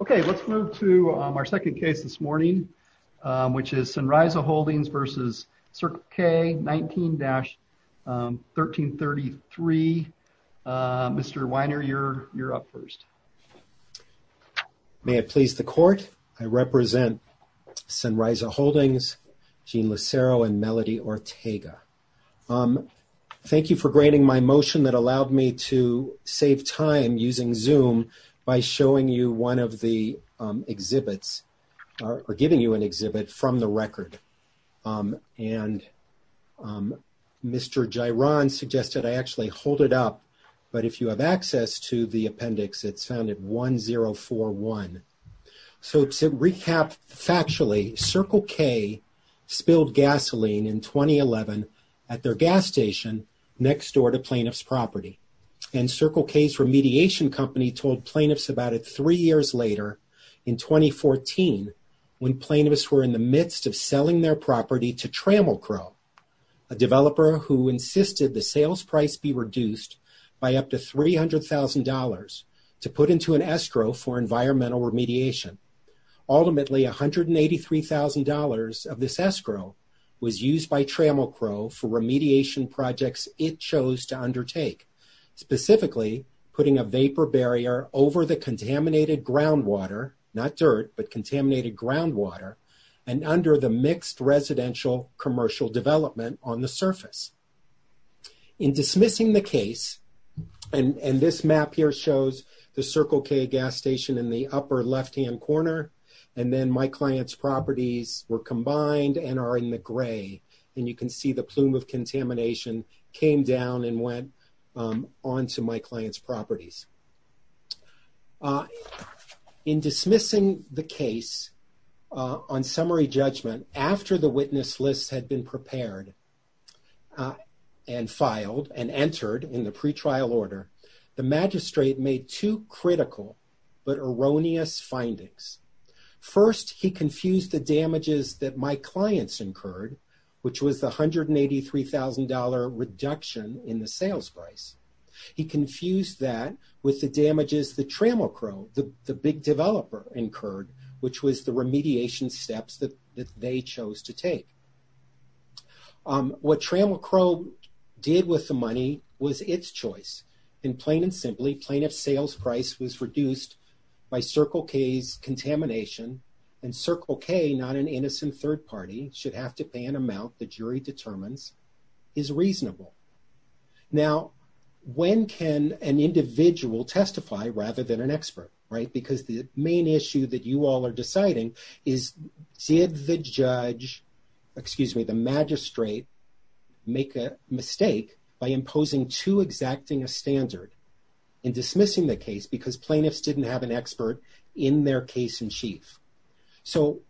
Okay, let's move to our second case this morning, which is Sunrisa Holdings v. Circle K, 19-1333. Mr. Weiner, you're up first. May it please the court, I represent Sunrisa Holdings, Jean Lucero, and Melody Ortega. Thank you for granting my motion that allowed me to save time using Zoom by showing you one of the exhibits or giving you an exhibit from the record. And Mr. Giron suggested I actually hold it up, but if you have access to the appendix, it's found at 1041. So to recap factually, Circle K spilled gasoline in 2011 at their gas station next door to plaintiff's property. And Circle K's remediation company told plaintiffs about it three years later in 2014, when plaintiffs were in the midst of selling their property to Trammel Crow, a developer who insisted the sales price be reduced by up to $300,000 to put into an escrow for environmental remediation. Ultimately, $183,000 of this escrow was used by Trammel Crow for remediation projects it chose to undertake, specifically putting a vapor barrier over the contaminated groundwater, not dirt, but contaminated groundwater, and under the mixed residential commercial development on the surface. In dismissing the case, and this map here shows the Circle K gas station in the upper left-hand corner, and then my client's properties were combined and are in the gray, and you can see the plume of contamination came down and went onto my client's properties. In dismissing the case on summary judgment, after the witness list had been prepared and filed and entered in the First, he confused the damages that my clients incurred, which was the $183,000 reduction in the sales price. He confused that with the damages that Trammel Crow, the big developer, incurred, which was the remediation steps that they chose to take. What Trammel Crow did with the money was its choice. In plain and simply, plaintiff's sales price was reduced by Circle K's contamination, and Circle K, not an innocent third party, should have to pay an amount the jury determines is reasonable. Now, when can an individual testify rather than an expert, right? Because the main issue that you all are deciding is, did the judge, excuse me, the magistrate make a mistake by imposing too exacting a standard in dismissing the case because plaintiffs didn't have an expert in their case-in-chief? So,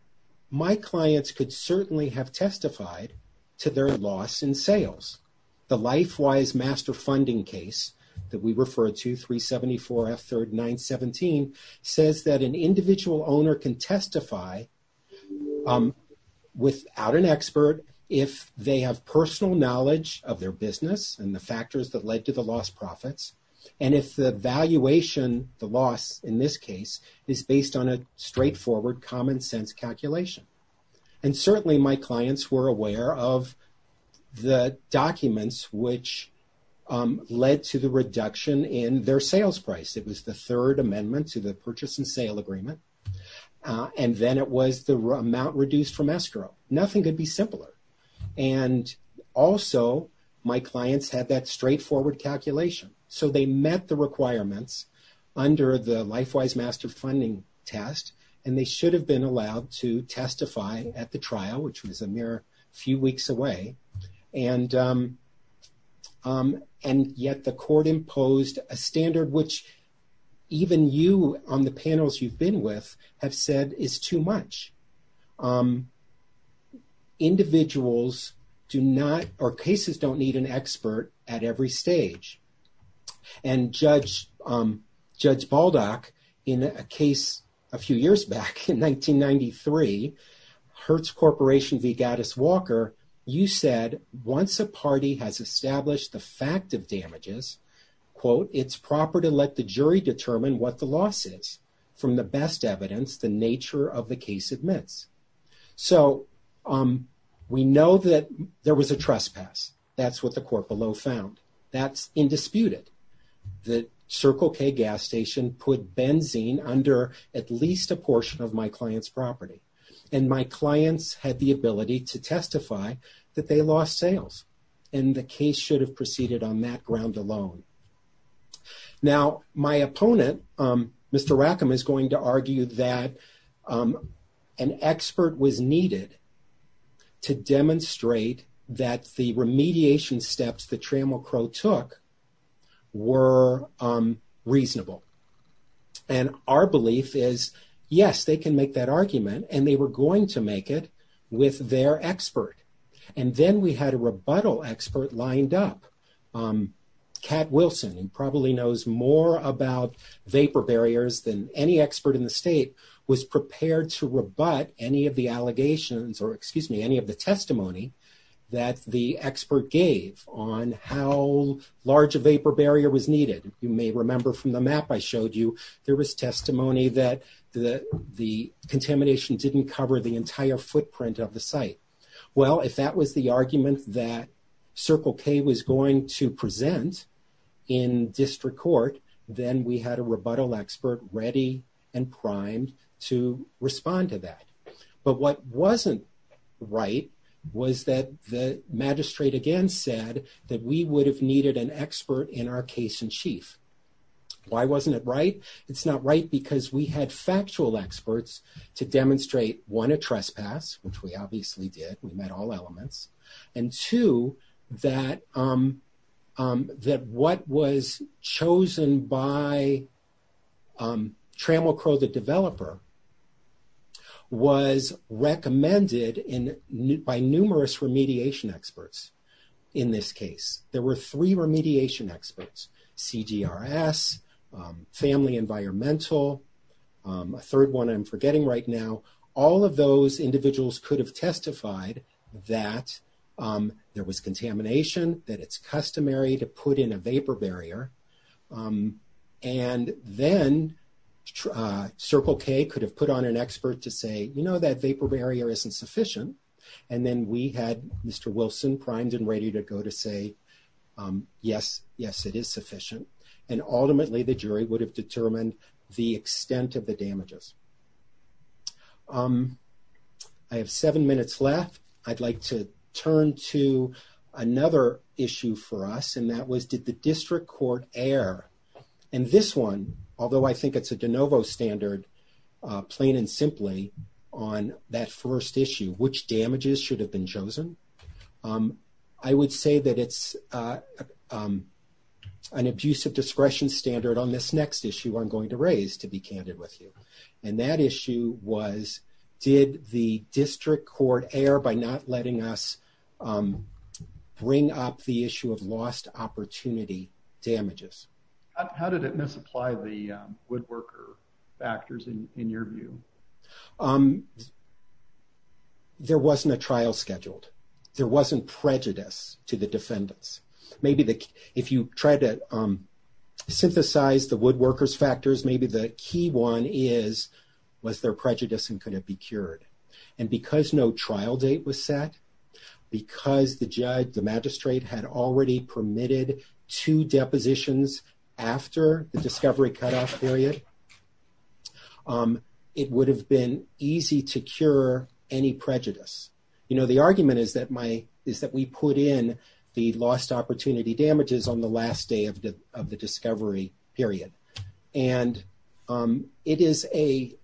my clients could certainly have testified to their loss in sales. The LifeWise Master Funding case that we refer to, 2374 F3rd 917, says that an individual owner can testify without an expert if they have personal knowledge of their business and the factors that led to the lost profits, and if the valuation, the loss in this case, is based on a straightforward, common sense calculation. And certainly, my clients were aware of the documents which led to the reduction in their sales price. It was the Third Amendment to the Purchase and then it was the amount reduced from escrow. Nothing could be simpler. And also, my clients had that straightforward calculation. So, they met the requirements under the LifeWise Master Funding test, and they should have been allowed to testify at the trial, which was a mere few weeks away. And yet, the court imposed a standard which even you on the panels you've been with have said is too much. Individuals do not, or cases don't need an expert at every stage. And Judge Baldock, in a case a few years back in 1993, Hertz Corporation v. Gaddis Walker, you said, once a party has established the fact of damages, quote, it's proper to let the jury determine what the loss is from the best evidence the nature of the case admits. So, we know that there was a trespass. That's what the court below found. That's indisputed. The Circle K gas station put benzene under at least a portion of my client's property, and my clients had the ability to testify that they lost sales, and the case should have proceeded on that ground alone. Now, my opponent, Mr. Rackham, is going to argue that an expert was needed to demonstrate that the remediation steps that Trammell Crowe took were reasonable. And our belief is, yes, they can make that argument, and they were going to make it with their expert. And then we had a rebuttal expert lined up. Cat Wilson, who probably knows more about vapor barriers than any expert in the state, was prepared to rebut any of the allegations, or excuse me, any of the testimony that the expert gave on how large a vapor barrier was needed. You may remember from the map I showed you, there was testimony that the contamination didn't cover the entire footprint of the site. Well, if that was the argument that Circle K was going to present in district court, then we had a rebuttal expert ready and primed to respond to that. But what wasn't right was that the magistrate again said that we would have needed an expert in our case-in-chief. Why wasn't it right? It's not right because we had factual experts to demonstrate, one, a trespass, which we obviously did. We met all elements. And two, that what was chosen by Trammell Crowe, the developer, was recommended by numerous remediation experts in this case. There were three remediation experts, CGRS, Family Environmental, a third one I'm forgetting right now. All of those individuals could have testified that there was contamination, that it's customary to put in a vapor barrier. And then Circle K could have put on an expert to say, you know, that vapor barrier isn't sufficient. And then we had Mr. Wilson primed and ready to go to say, yes, yes, it is sufficient. And ultimately, the jury would have determined the extent of the violation. I have seven minutes left. I'd like to turn to another issue for us, and that was, did the district court err? And this one, although I think it's a de novo standard, plain and simply, on that first issue, which damages should have been chosen? I would say that it's an abusive discretion standard on this next issue I'm going to raise, to be candid with you. And that issue was, did the district court err by not letting us bring up the issue of lost opportunity damages? How did it misapply the woodworker factors in your view? There wasn't a trial scheduled. There wasn't prejudice to the defendants. Maybe if you try to maybe the key one is, was there prejudice and could it be cured? And because no trial date was set, because the judge, the magistrate, had already permitted two depositions after the discovery cutoff period, it would have been easy to cure any prejudice. You know, the argument is that we put in the lost opportunity damages on the last day of the discovery period. And it is a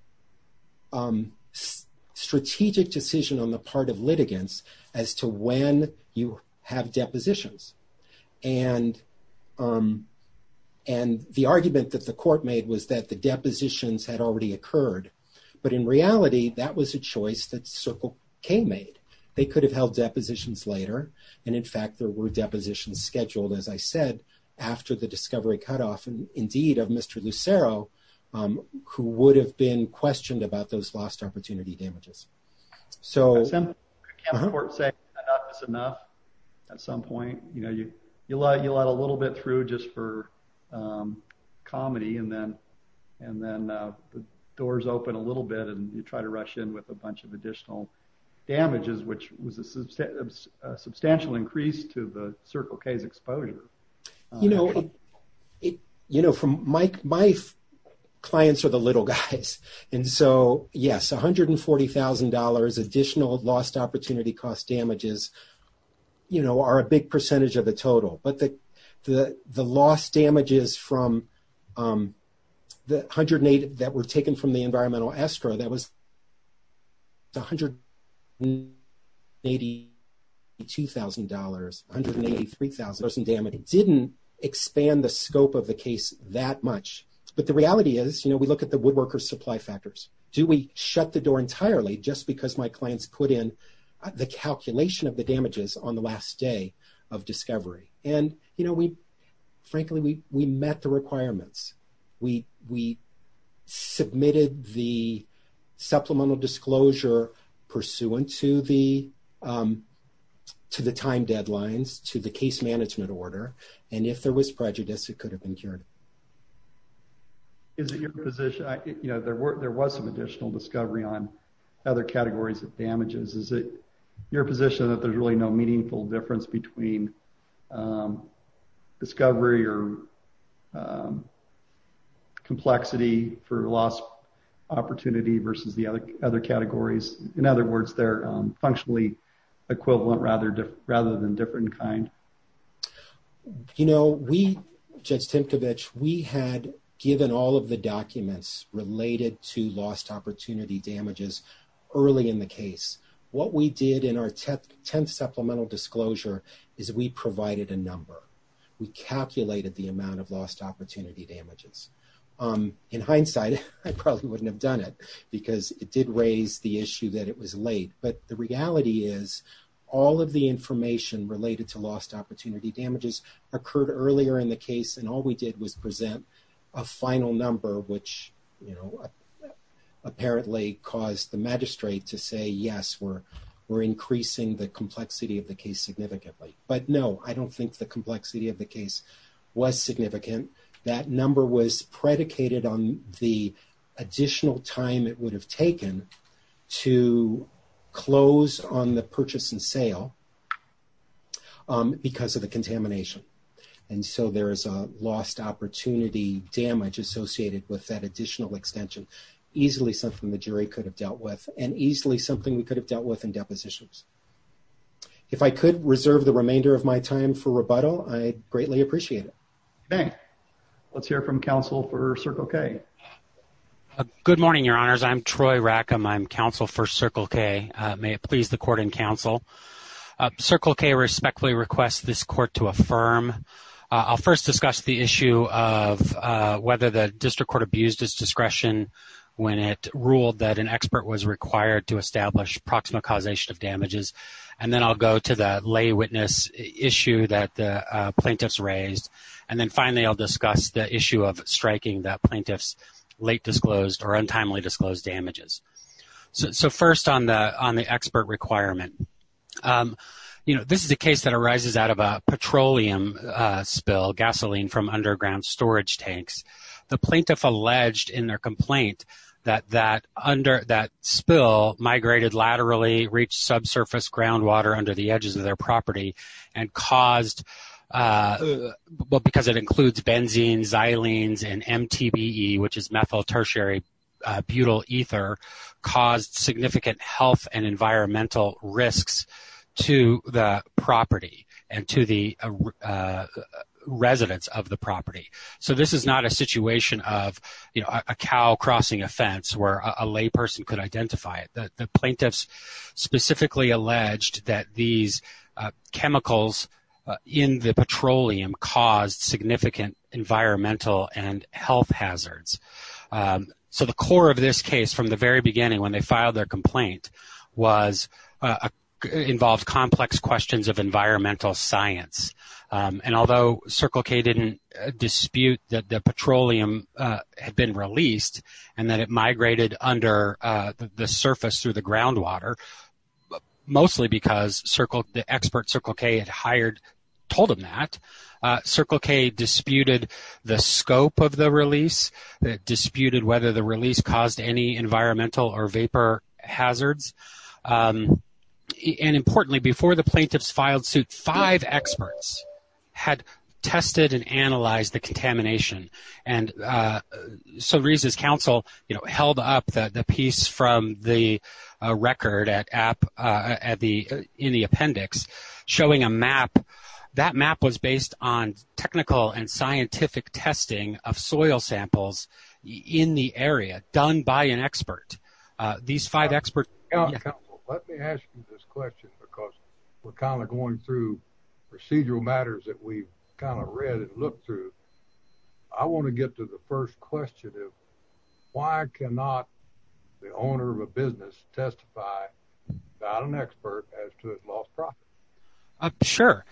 strategic decision on the part of litigants as to when you have depositions. And the argument that the court made was that the depositions had already occurred. But in reality, that was a choice that Circle K made. They could have held depositions later. And in fact, there were depositions scheduled, as I said, after the discovery cutoff, and indeed of Mr. Lucero, who would have been questioned about those lost opportunity damages. So I can't say enough is enough. At some point, you know, you let a little bit through just for and then the doors open a little bit and you try to rush in with a bunch of additional damages, which was a substantial increase to the Circle K's exposure. You know, from my clients are the little guys. And so yes, $140,000 additional lost opportunity cost damages, you know, are a big percentage of the total. But the lost damages from the 108 that were taken from the environmental escrow, that was $182,000, $183,000. It didn't expand the scope of the case that much. But the reality is, you know, we look at the woodworker supply factors. Do we shut the door entirely just because my clients put in the calculation of the damages on the last day of discovery? And, you know, we frankly, we met the requirements. We submitted the supplemental disclosure pursuant to the time deadlines to the case management order. And if there was prejudice, it could have been cured. Is it your position, you know, there were there was some additional discovery on other categories of damages. Is it your position that there's really no meaningful difference between discovery or complexity for lost opportunity versus the other categories? In other words, they're functionally equivalent rather than different kind? You know, we, Judge Tinkovich, we had given all of the documents related to lost opportunity damages early in the case. What we did in our tenth supplemental disclosure is we provided a number. We calculated the amount of lost opportunity damages. In hindsight, I probably wouldn't have done it because it did raise the issue that it was late. But the reality is, all of the information related to lost opportunity damages occurred earlier in the case. And all we did was present a final number, which, you know, apparently caused the magistrate to say, yes, we're increasing the complexity of the case significantly. But no, I don't think the complexity of the case was significant. That number was predicated on the additional time it would have taken to close on the purchase and sale because of the contamination. And so, there is a lost opportunity damage associated with that additional extension. Easily something the jury could have dealt with and easily something we could have dealt with in depositions. If I could reserve the remainder of my time for rebuttal, I'd greatly appreciate it. Okay. Let's hear from counsel for Circle K. Good morning, Your Honors. I'm Troy Rackham. I'm counsel for Circle K. May it please the discuss the issue of whether the district court abused its discretion when it ruled that an expert was required to establish proximal causation of damages. And then I'll go to the lay witness issue that the plaintiffs raised. And then finally, I'll discuss the issue of striking that plaintiffs late disclosed or untimely disclosed damages. So, first on the expert requirement, you know, this is a case that arises out of a petroleum spill, gasoline from underground storage tanks. The plaintiff alleged in their complaint that that spill migrated laterally, reached subsurface groundwater under the edges of their property and caused, because it includes benzene, xylenes, and MTBE, which is methyl tertiary butyl ether, caused significant health and environmental risks to the property and to the residents of the property. So, this is not a situation of, you know, a cow crossing a fence where a layperson could identify it. The plaintiffs specifically alleged that these chemicals in the petroleum caused significant environmental and health hazards. So, the core of this case, from the very beginning when they filed their complaint, involved complex questions of environmental science. And although Circle K didn't dispute that the petroleum had been released and that it migrated under the surface through the groundwater, mostly because the expert Circle K had hired, told them that, Circle K disputed the scope of the release, disputed whether the or vapor hazards. And importantly, before the plaintiffs filed suit, five experts had tested and analyzed the contamination. And so, Reza's counsel, you know, held up the piece from the record in the appendix showing a map. That map was based on technical and scientific testing of soil samples in the area done by an expert. These five experts... Reza Sayah, Council, let me ask you this question because we're kind of going through procedural matters that we've kind of read and looked through. I want to get to the first question of why cannot the owner of a business testify, not an expert, as to its lost profit? Sure.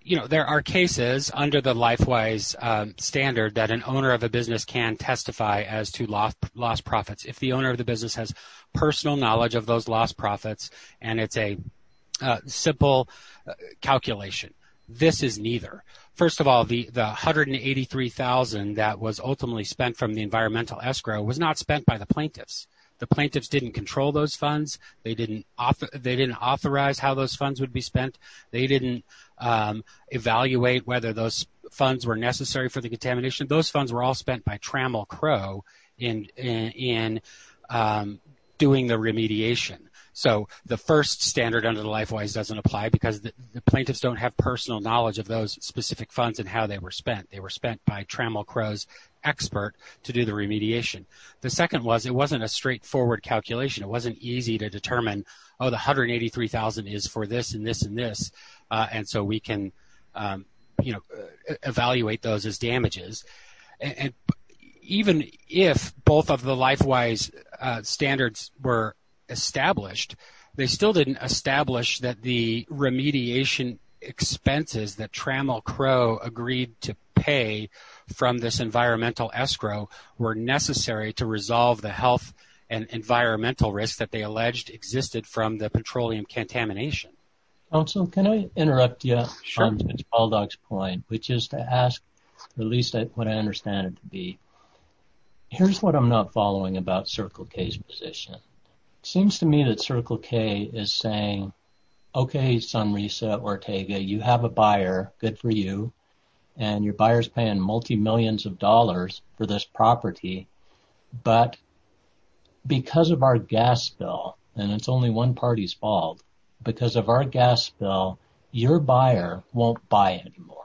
You know, there are cases under the LifeWise standard that an owner of a business can testify as to lost profits. If the owner of the business has personal knowledge of those lost profits and it's a simple calculation, this is neither. First of all, the $183,000 that was ultimately spent from the environmental escrow was not spent by the plaintiffs. The plaintiffs didn't control those funds. They didn't authorize how those funds would be spent. They didn't evaluate whether those funds were necessary for the contamination. Those funds were all spent by Trammell Crow in doing the remediation. So, the first standard under the LifeWise doesn't apply because the plaintiffs don't have personal knowledge of those specific funds and how they were spent. They were spent by Trammell Crow's expert to do the remediation. The second was it wasn't a straightforward calculation. It wasn't easy to determine, oh, the $183,000 is for this and this and this, and so we can evaluate those as damages. Even if both of the LifeWise standards were established, they still didn't establish that the remediation expenses that Trammell Crow agreed to pay from this environmental escrow were necessary to resolve the health and environmental risk that they alleged existed from the petroleum contamination. Counsel, can I interrupt you on Mr. Baldock's point, which is to ask, at least what I understand it to be, here's what I'm not following about Circle K's position. It seems to me that Circle K is saying, okay, Sunrisa Ortega, you have a buyer, good for you, and your buyer's paying multi-millions of dollars for this property, but because of our gas bill, and it's only one party's fault, because of our gas bill, your buyer won't buy anymore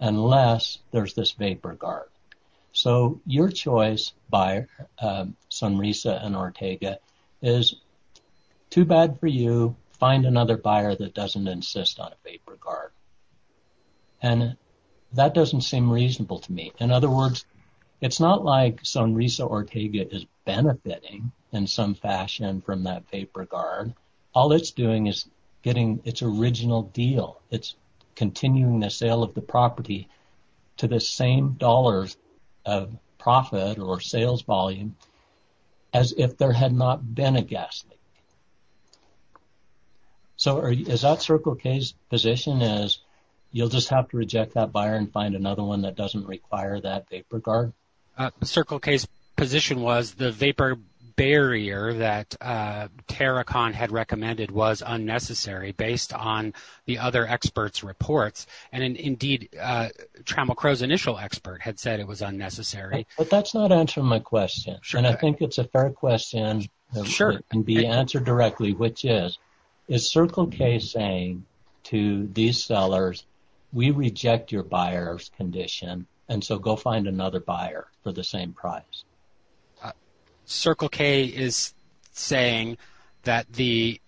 unless there's this vapor guard. So your choice, Sunrisa and Ortega, is too bad for you, find another buyer that doesn't insist on a vapor guard, and that doesn't seem reasonable to me. In other words, it's not like Sunrisa Ortega is benefiting in some fashion from that vapor guard, all it's doing is getting its original deal, it's continuing the sale of the property to the same dollars of profit or sales volume as if there had not been a gas leak. So is that Circle K's position is you'll just have to reject that buyer and find another one that doesn't require that vapor guard? Circle K's position was the vapor barrier that Terracon had recommended was unnecessary based on the other experts' reports, and indeed, Trammell Crowe's initial expert had said it was unnecessary. But that's not answering my question, and I think it's a fair question that can be answered directly, which is, is Circle K saying to these sellers, we reject your buyer's condition, and so go find another buyer for the same price? Circle K is saying that the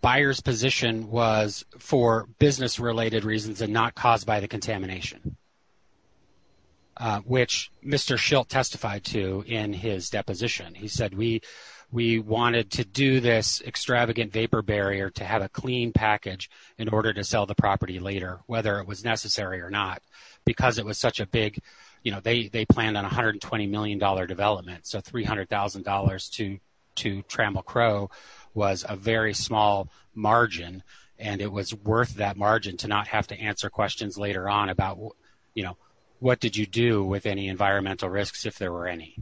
buyer's position was for business-related reasons and not caused by the contamination, which Mr. Schilt testified to in his deposition. He said, we wanted to do this extravagant vapor barrier to have a clean package in order to sell the property later, whether it was necessary or not, because it was such a big, you know, they planned on $120 million development, so $300,000 to Trammell Crowe was a very small margin, and it was worth that margin to not have to answer questions later on about, you know, what did you do with any environmental risks if there were any?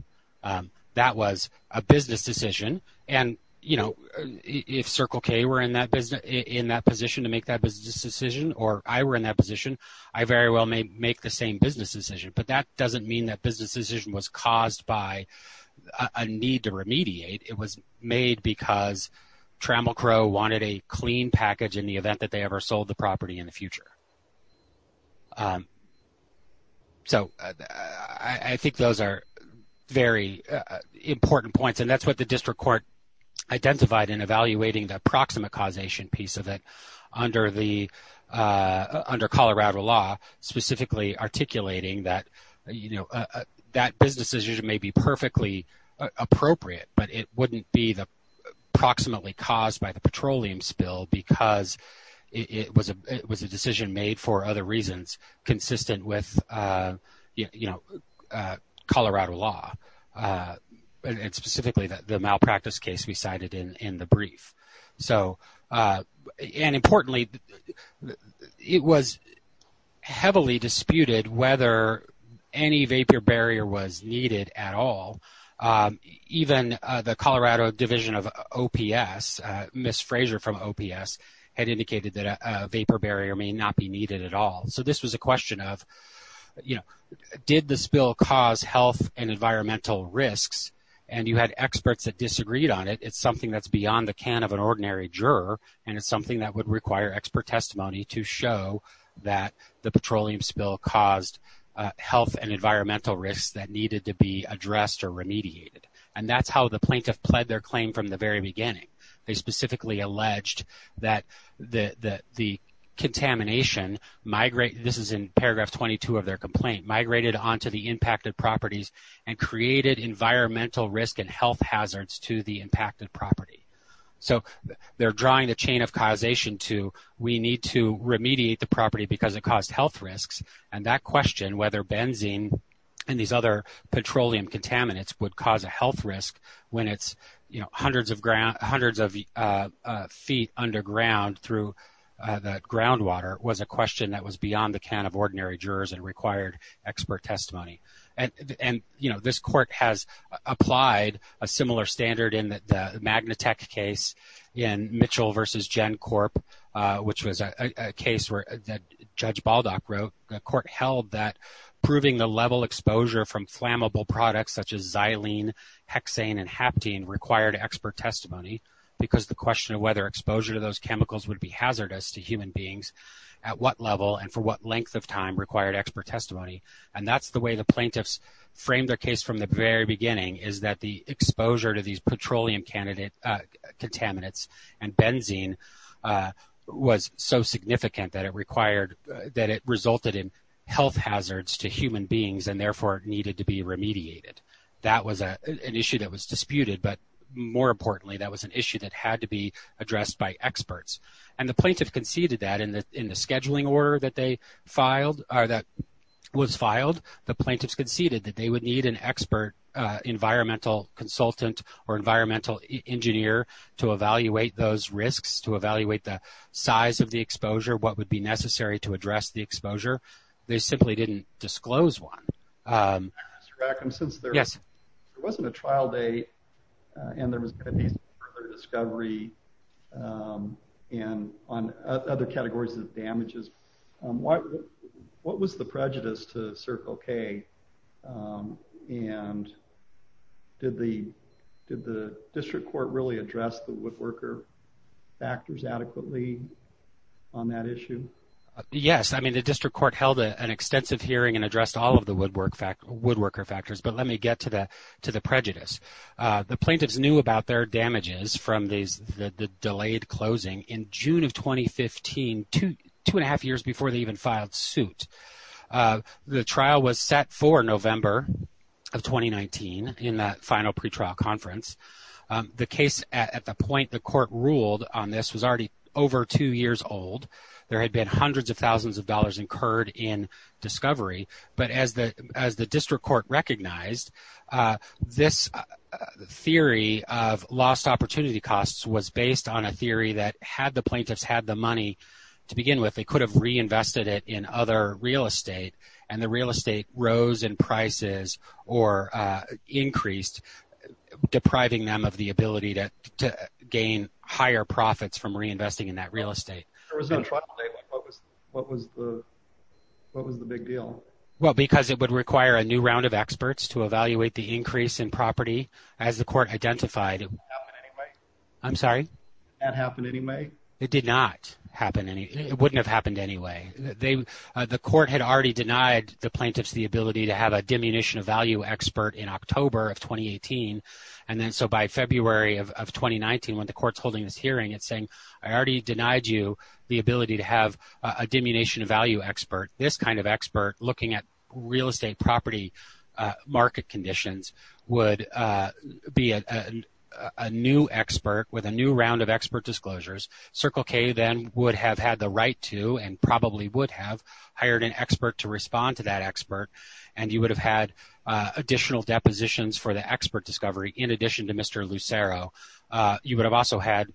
That was a business decision, and, you know, if Circle K were in that business, in that position to make that business decision, or I were in that position, I very well may make the same business decision, but that doesn't mean that business decision was caused by a need to remediate. It was made because Trammell Crowe wanted a clean package in the event that they ever sold the property in the future. So, I think those are very important points, and that's what the District Court identified in evaluating the approximate causation piece of it under the, under Colorado law, specifically articulating that, you know, that business decision may be perfectly appropriate, but it wouldn't be the approximately caused by the petroleum spill because it was a, it was a decision made for other reasons consistent with, you know, Colorado law, and specifically the malpractice case we cited in the brief. So, and importantly, it was heavily disputed whether any vapor barrier was needed at all. Even the Colorado Division of OPS had indicated that a vapor barrier may not be needed at all. So, this was a question of, you know, did the spill cause health and environmental risks? And you had experts that disagreed on it. It's something that's beyond the can of an ordinary juror, and it's something that would require expert testimony to show that the petroleum spill caused health and environmental risks that needed to be addressed or remediated. And that's how the plaintiff pled their claim from the very beginning. They specifically alleged that the contamination migrate, this is in paragraph 22 of their complaint, migrated onto the impacted properties and created environmental risk and health hazards to the impacted property. So, they're drawing the chain of causation to we need to remediate the property because it caused health risks, and that question whether benzene and these other petroleum contaminants would cause a health risk when it's, you know, hundreds of feet underground through the groundwater was a question that was beyond the can of ordinary jurors and required expert testimony. And, you know, this court has applied a similar standard in the Magnatech case in Mitchell v. GenCorp, which was a case where that Judge Baldock wrote, the court held that proving the level exposure from flammable products such as xylene, hexane, and haptene required expert testimony because the question of whether exposure to those chemicals would be hazardous to human beings at what level and for what length of time required expert testimony. And that's the way the plaintiffs framed their case from the very beginning is that the exposure to these petroleum contaminants and benzene was so significant that it required, that it resulted in health hazards to human beings and therefore needed to be remediated. That was an issue that was disputed, but more importantly, that was an issue that had to be addressed by experts. And the plaintiff conceded that in the scheduling order that they filed, or that was filed, the plaintiffs conceded that they would need an expert environmental consultant or environmental engineer to evaluate those risks, to evaluate the size of the exposure, what would be necessary to address the exposure. They simply didn't disclose one. Mr. Rackham, since there wasn't a trial date and there was going to be further discovery on other categories of damages, what was the prejudice to Circle K? And did the district court really address the woodworker factors adequately on that issue? Yes. I mean, the district court held an extensive hearing and addressed all of the woodwork factors, but let me get to the prejudice. The plaintiffs knew about their damages from the delayed closing in June of 2015, two and a half years before they even filed suit. The trial was set for November of 2019 in that final pretrial conference. The case, at the point the court ruled on this, was already over two years old. There had been hundreds of thousands of dollars incurred in discovery, but as the district court recognized, this theory of lost opportunity costs was based on a theory that had the plaintiffs had the money to begin with, they could have reinvested it in other real estate, and the real estate rose in prices or increased, depriving them of the ability to gain higher profits from reinvesting in that real estate. What was the big deal? Well, because it would require a new round of experts to evaluate the increase in property, as the court identified. Did that happen anyway? I'm sorry? Did that happen anyway? It did not happen. It wouldn't have happened anyway. The court had already denied the plaintiffs the ability to have a diminution of value expert in October of 2018, and then so by February of 2019, when the court's holding this hearing, it's saying, I already denied you the ability to have a diminution of value expert. This kind of expert, looking at real estate property market conditions, would be a new expert with a new round of expert disclosures. Circle K then would have had the right to, and probably would have, hired an expert to respond to that expert, and you would have had additional depositions for the expert discovery in addition to Mr. Lucero. You would have also had,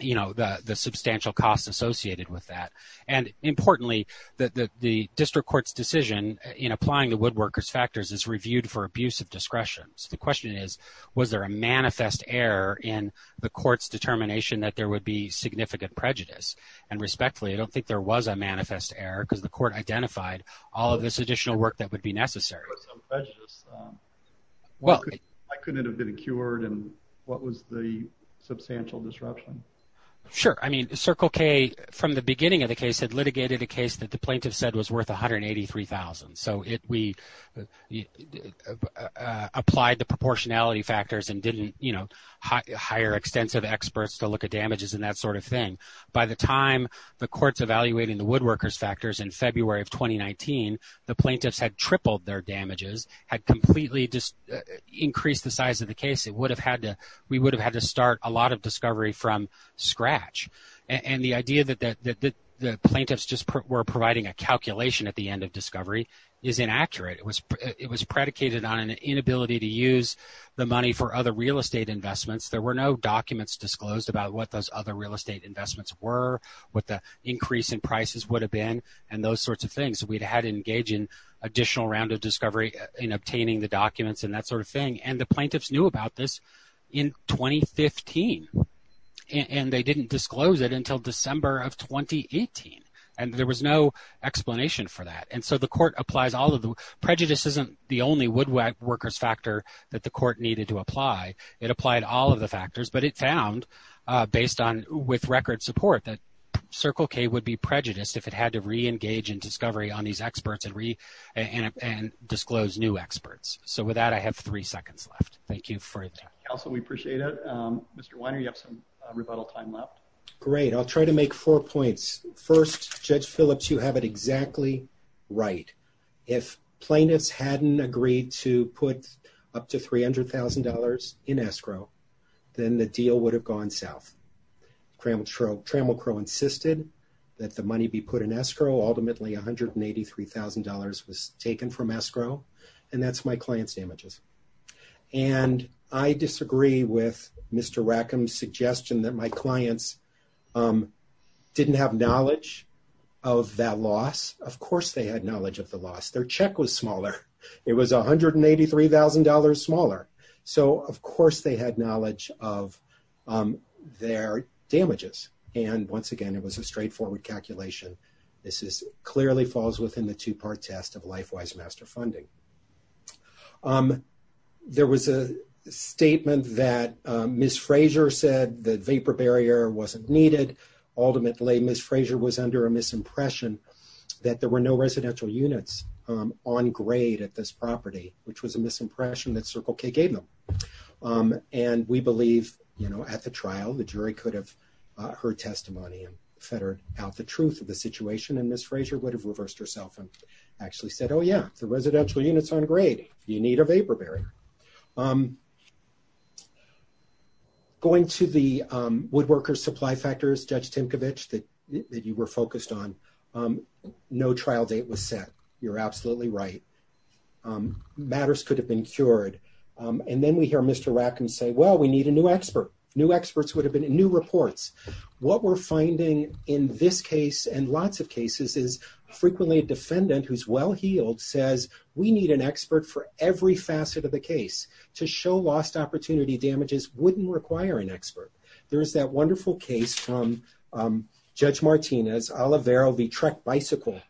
you know, the substantial costs associated with that. And importantly, the district court's decision in applying the woodworkers factors is reviewed for abuse of discretion. So the question is, was there a manifest error in the court's determination that there would be significant prejudice? And respectfully, I don't think there was a manifest error, because the court identified all of this additional work that would be necessary. Well, I couldn't have been cured, and what was the substantial disruption? Sure. I mean, Circle K, from the beginning of the case, had litigated a case that the plaintiff said was worth $183,000. So we applied the proportionality factors and didn't, you know, hire extensive experts to look at damages and that sort of thing. By the time the court's evaluating the woodworkers factors in February of 2019, the plaintiffs had tripled their damages, had completely increased the size of the case. We would have had to start a lot of discovery from scratch. And the idea that the plaintiffs just were providing a calculation at the end of discovery is inaccurate. It was predicated on an inability to use the money for other real estate investments. There were no documents disclosed about what those other real estate investments were, what the increase in prices would have been, and those sorts of things. So we'd had to engage in additional round of discovery in obtaining the documents and that sort of thing. And the plaintiffs knew about this in 2015, and they didn't disclose it until December of 2018, and there was no explanation for that. And so the court applies all of the... Prejudice isn't the only woodworkers factor that the court needed to apply. It applied all of the factors, but it found, based on... With record support that Circle K would be prejudiced if it had to re-engage in discovery on these experts and re... And disclose new experts. So with that, I have three seconds left. Thank you for your time. Counsel, we appreciate it. Mr. Weiner, you have some rebuttal time left. Great. I'll try to make four points. First, Judge Phillips, you have it exactly right. If plaintiffs hadn't agreed to put up to $300,000 in escrow, then the deal would have gone south. Trammell Crowe insisted that the money be put in escrow. Ultimately, $183,000 was taken from escrow, and that's my client's damages. And I disagree with Mr. Rackham's suggestion that my clients didn't have knowledge of that loss. Of course, they had knowledge of the loss. Their check was smaller. It was $183,000 smaller. So of course, they had knowledge of their damages. And once again, it was a straightforward calculation. This clearly falls within the two-part test of LifeWise Master Funding. There was a statement that Ms. Frazier said the vapor barrier wasn't needed. Ultimately, Ms. Frazier was under a misimpression that there were no residential units on grade at this trial. The jury could have heard testimony and fettered out the truth of the situation, and Ms. Frazier would have reversed herself and actually said, oh, yeah, the residential units aren't great. You need a vapor barrier. Going to the woodworker's supply factors, Judge Timkovich, that you were focused on, no trial date was set. You're absolutely right. Matters could have been cured. And then we hear Mr. Rackham say, well, we need a new expert. New experts would have been in new reports. What we're finding in this case and lots of cases is frequently a defendant who's well-heeled says, we need an expert for every facet of the case. To show lost opportunity damages wouldn't require an expert. There's that wonderful case from Judge Martinez, Olivero v. Trek Bicycle,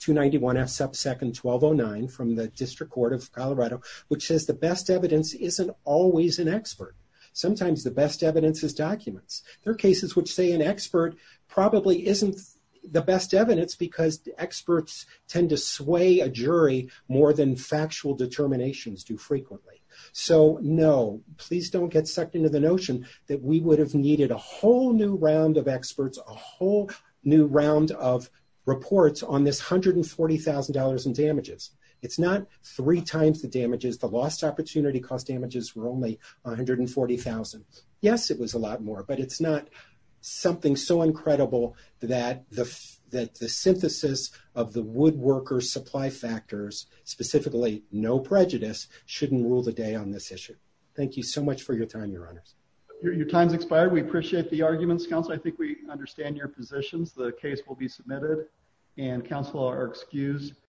291 F. Subsecond 1209 from the District Court of Colorado, which says the best evidence isn't always an expert. Sometimes the best evidence is documents. There are cases which say an expert probably isn't the best evidence because experts tend to sway a jury more than factual determinations do frequently. So, no, please don't get sucked into the notion that we would have needed a whole new round of experts, a whole new round of reports on this $140,000 in damages. It's not three times the damages. The lost opportunity cost damages were only 140,000. Yes, it was a lot more, but it's not something so incredible that the synthesis of the woodworker's supply factors, specifically no prejudice, shouldn't rule the day on this issue. Thank you so much for your time, your honors. Your time's expired. We appreciate the arguments, counsel. I think we understand your positions. The case will be submitted and counsel are excused.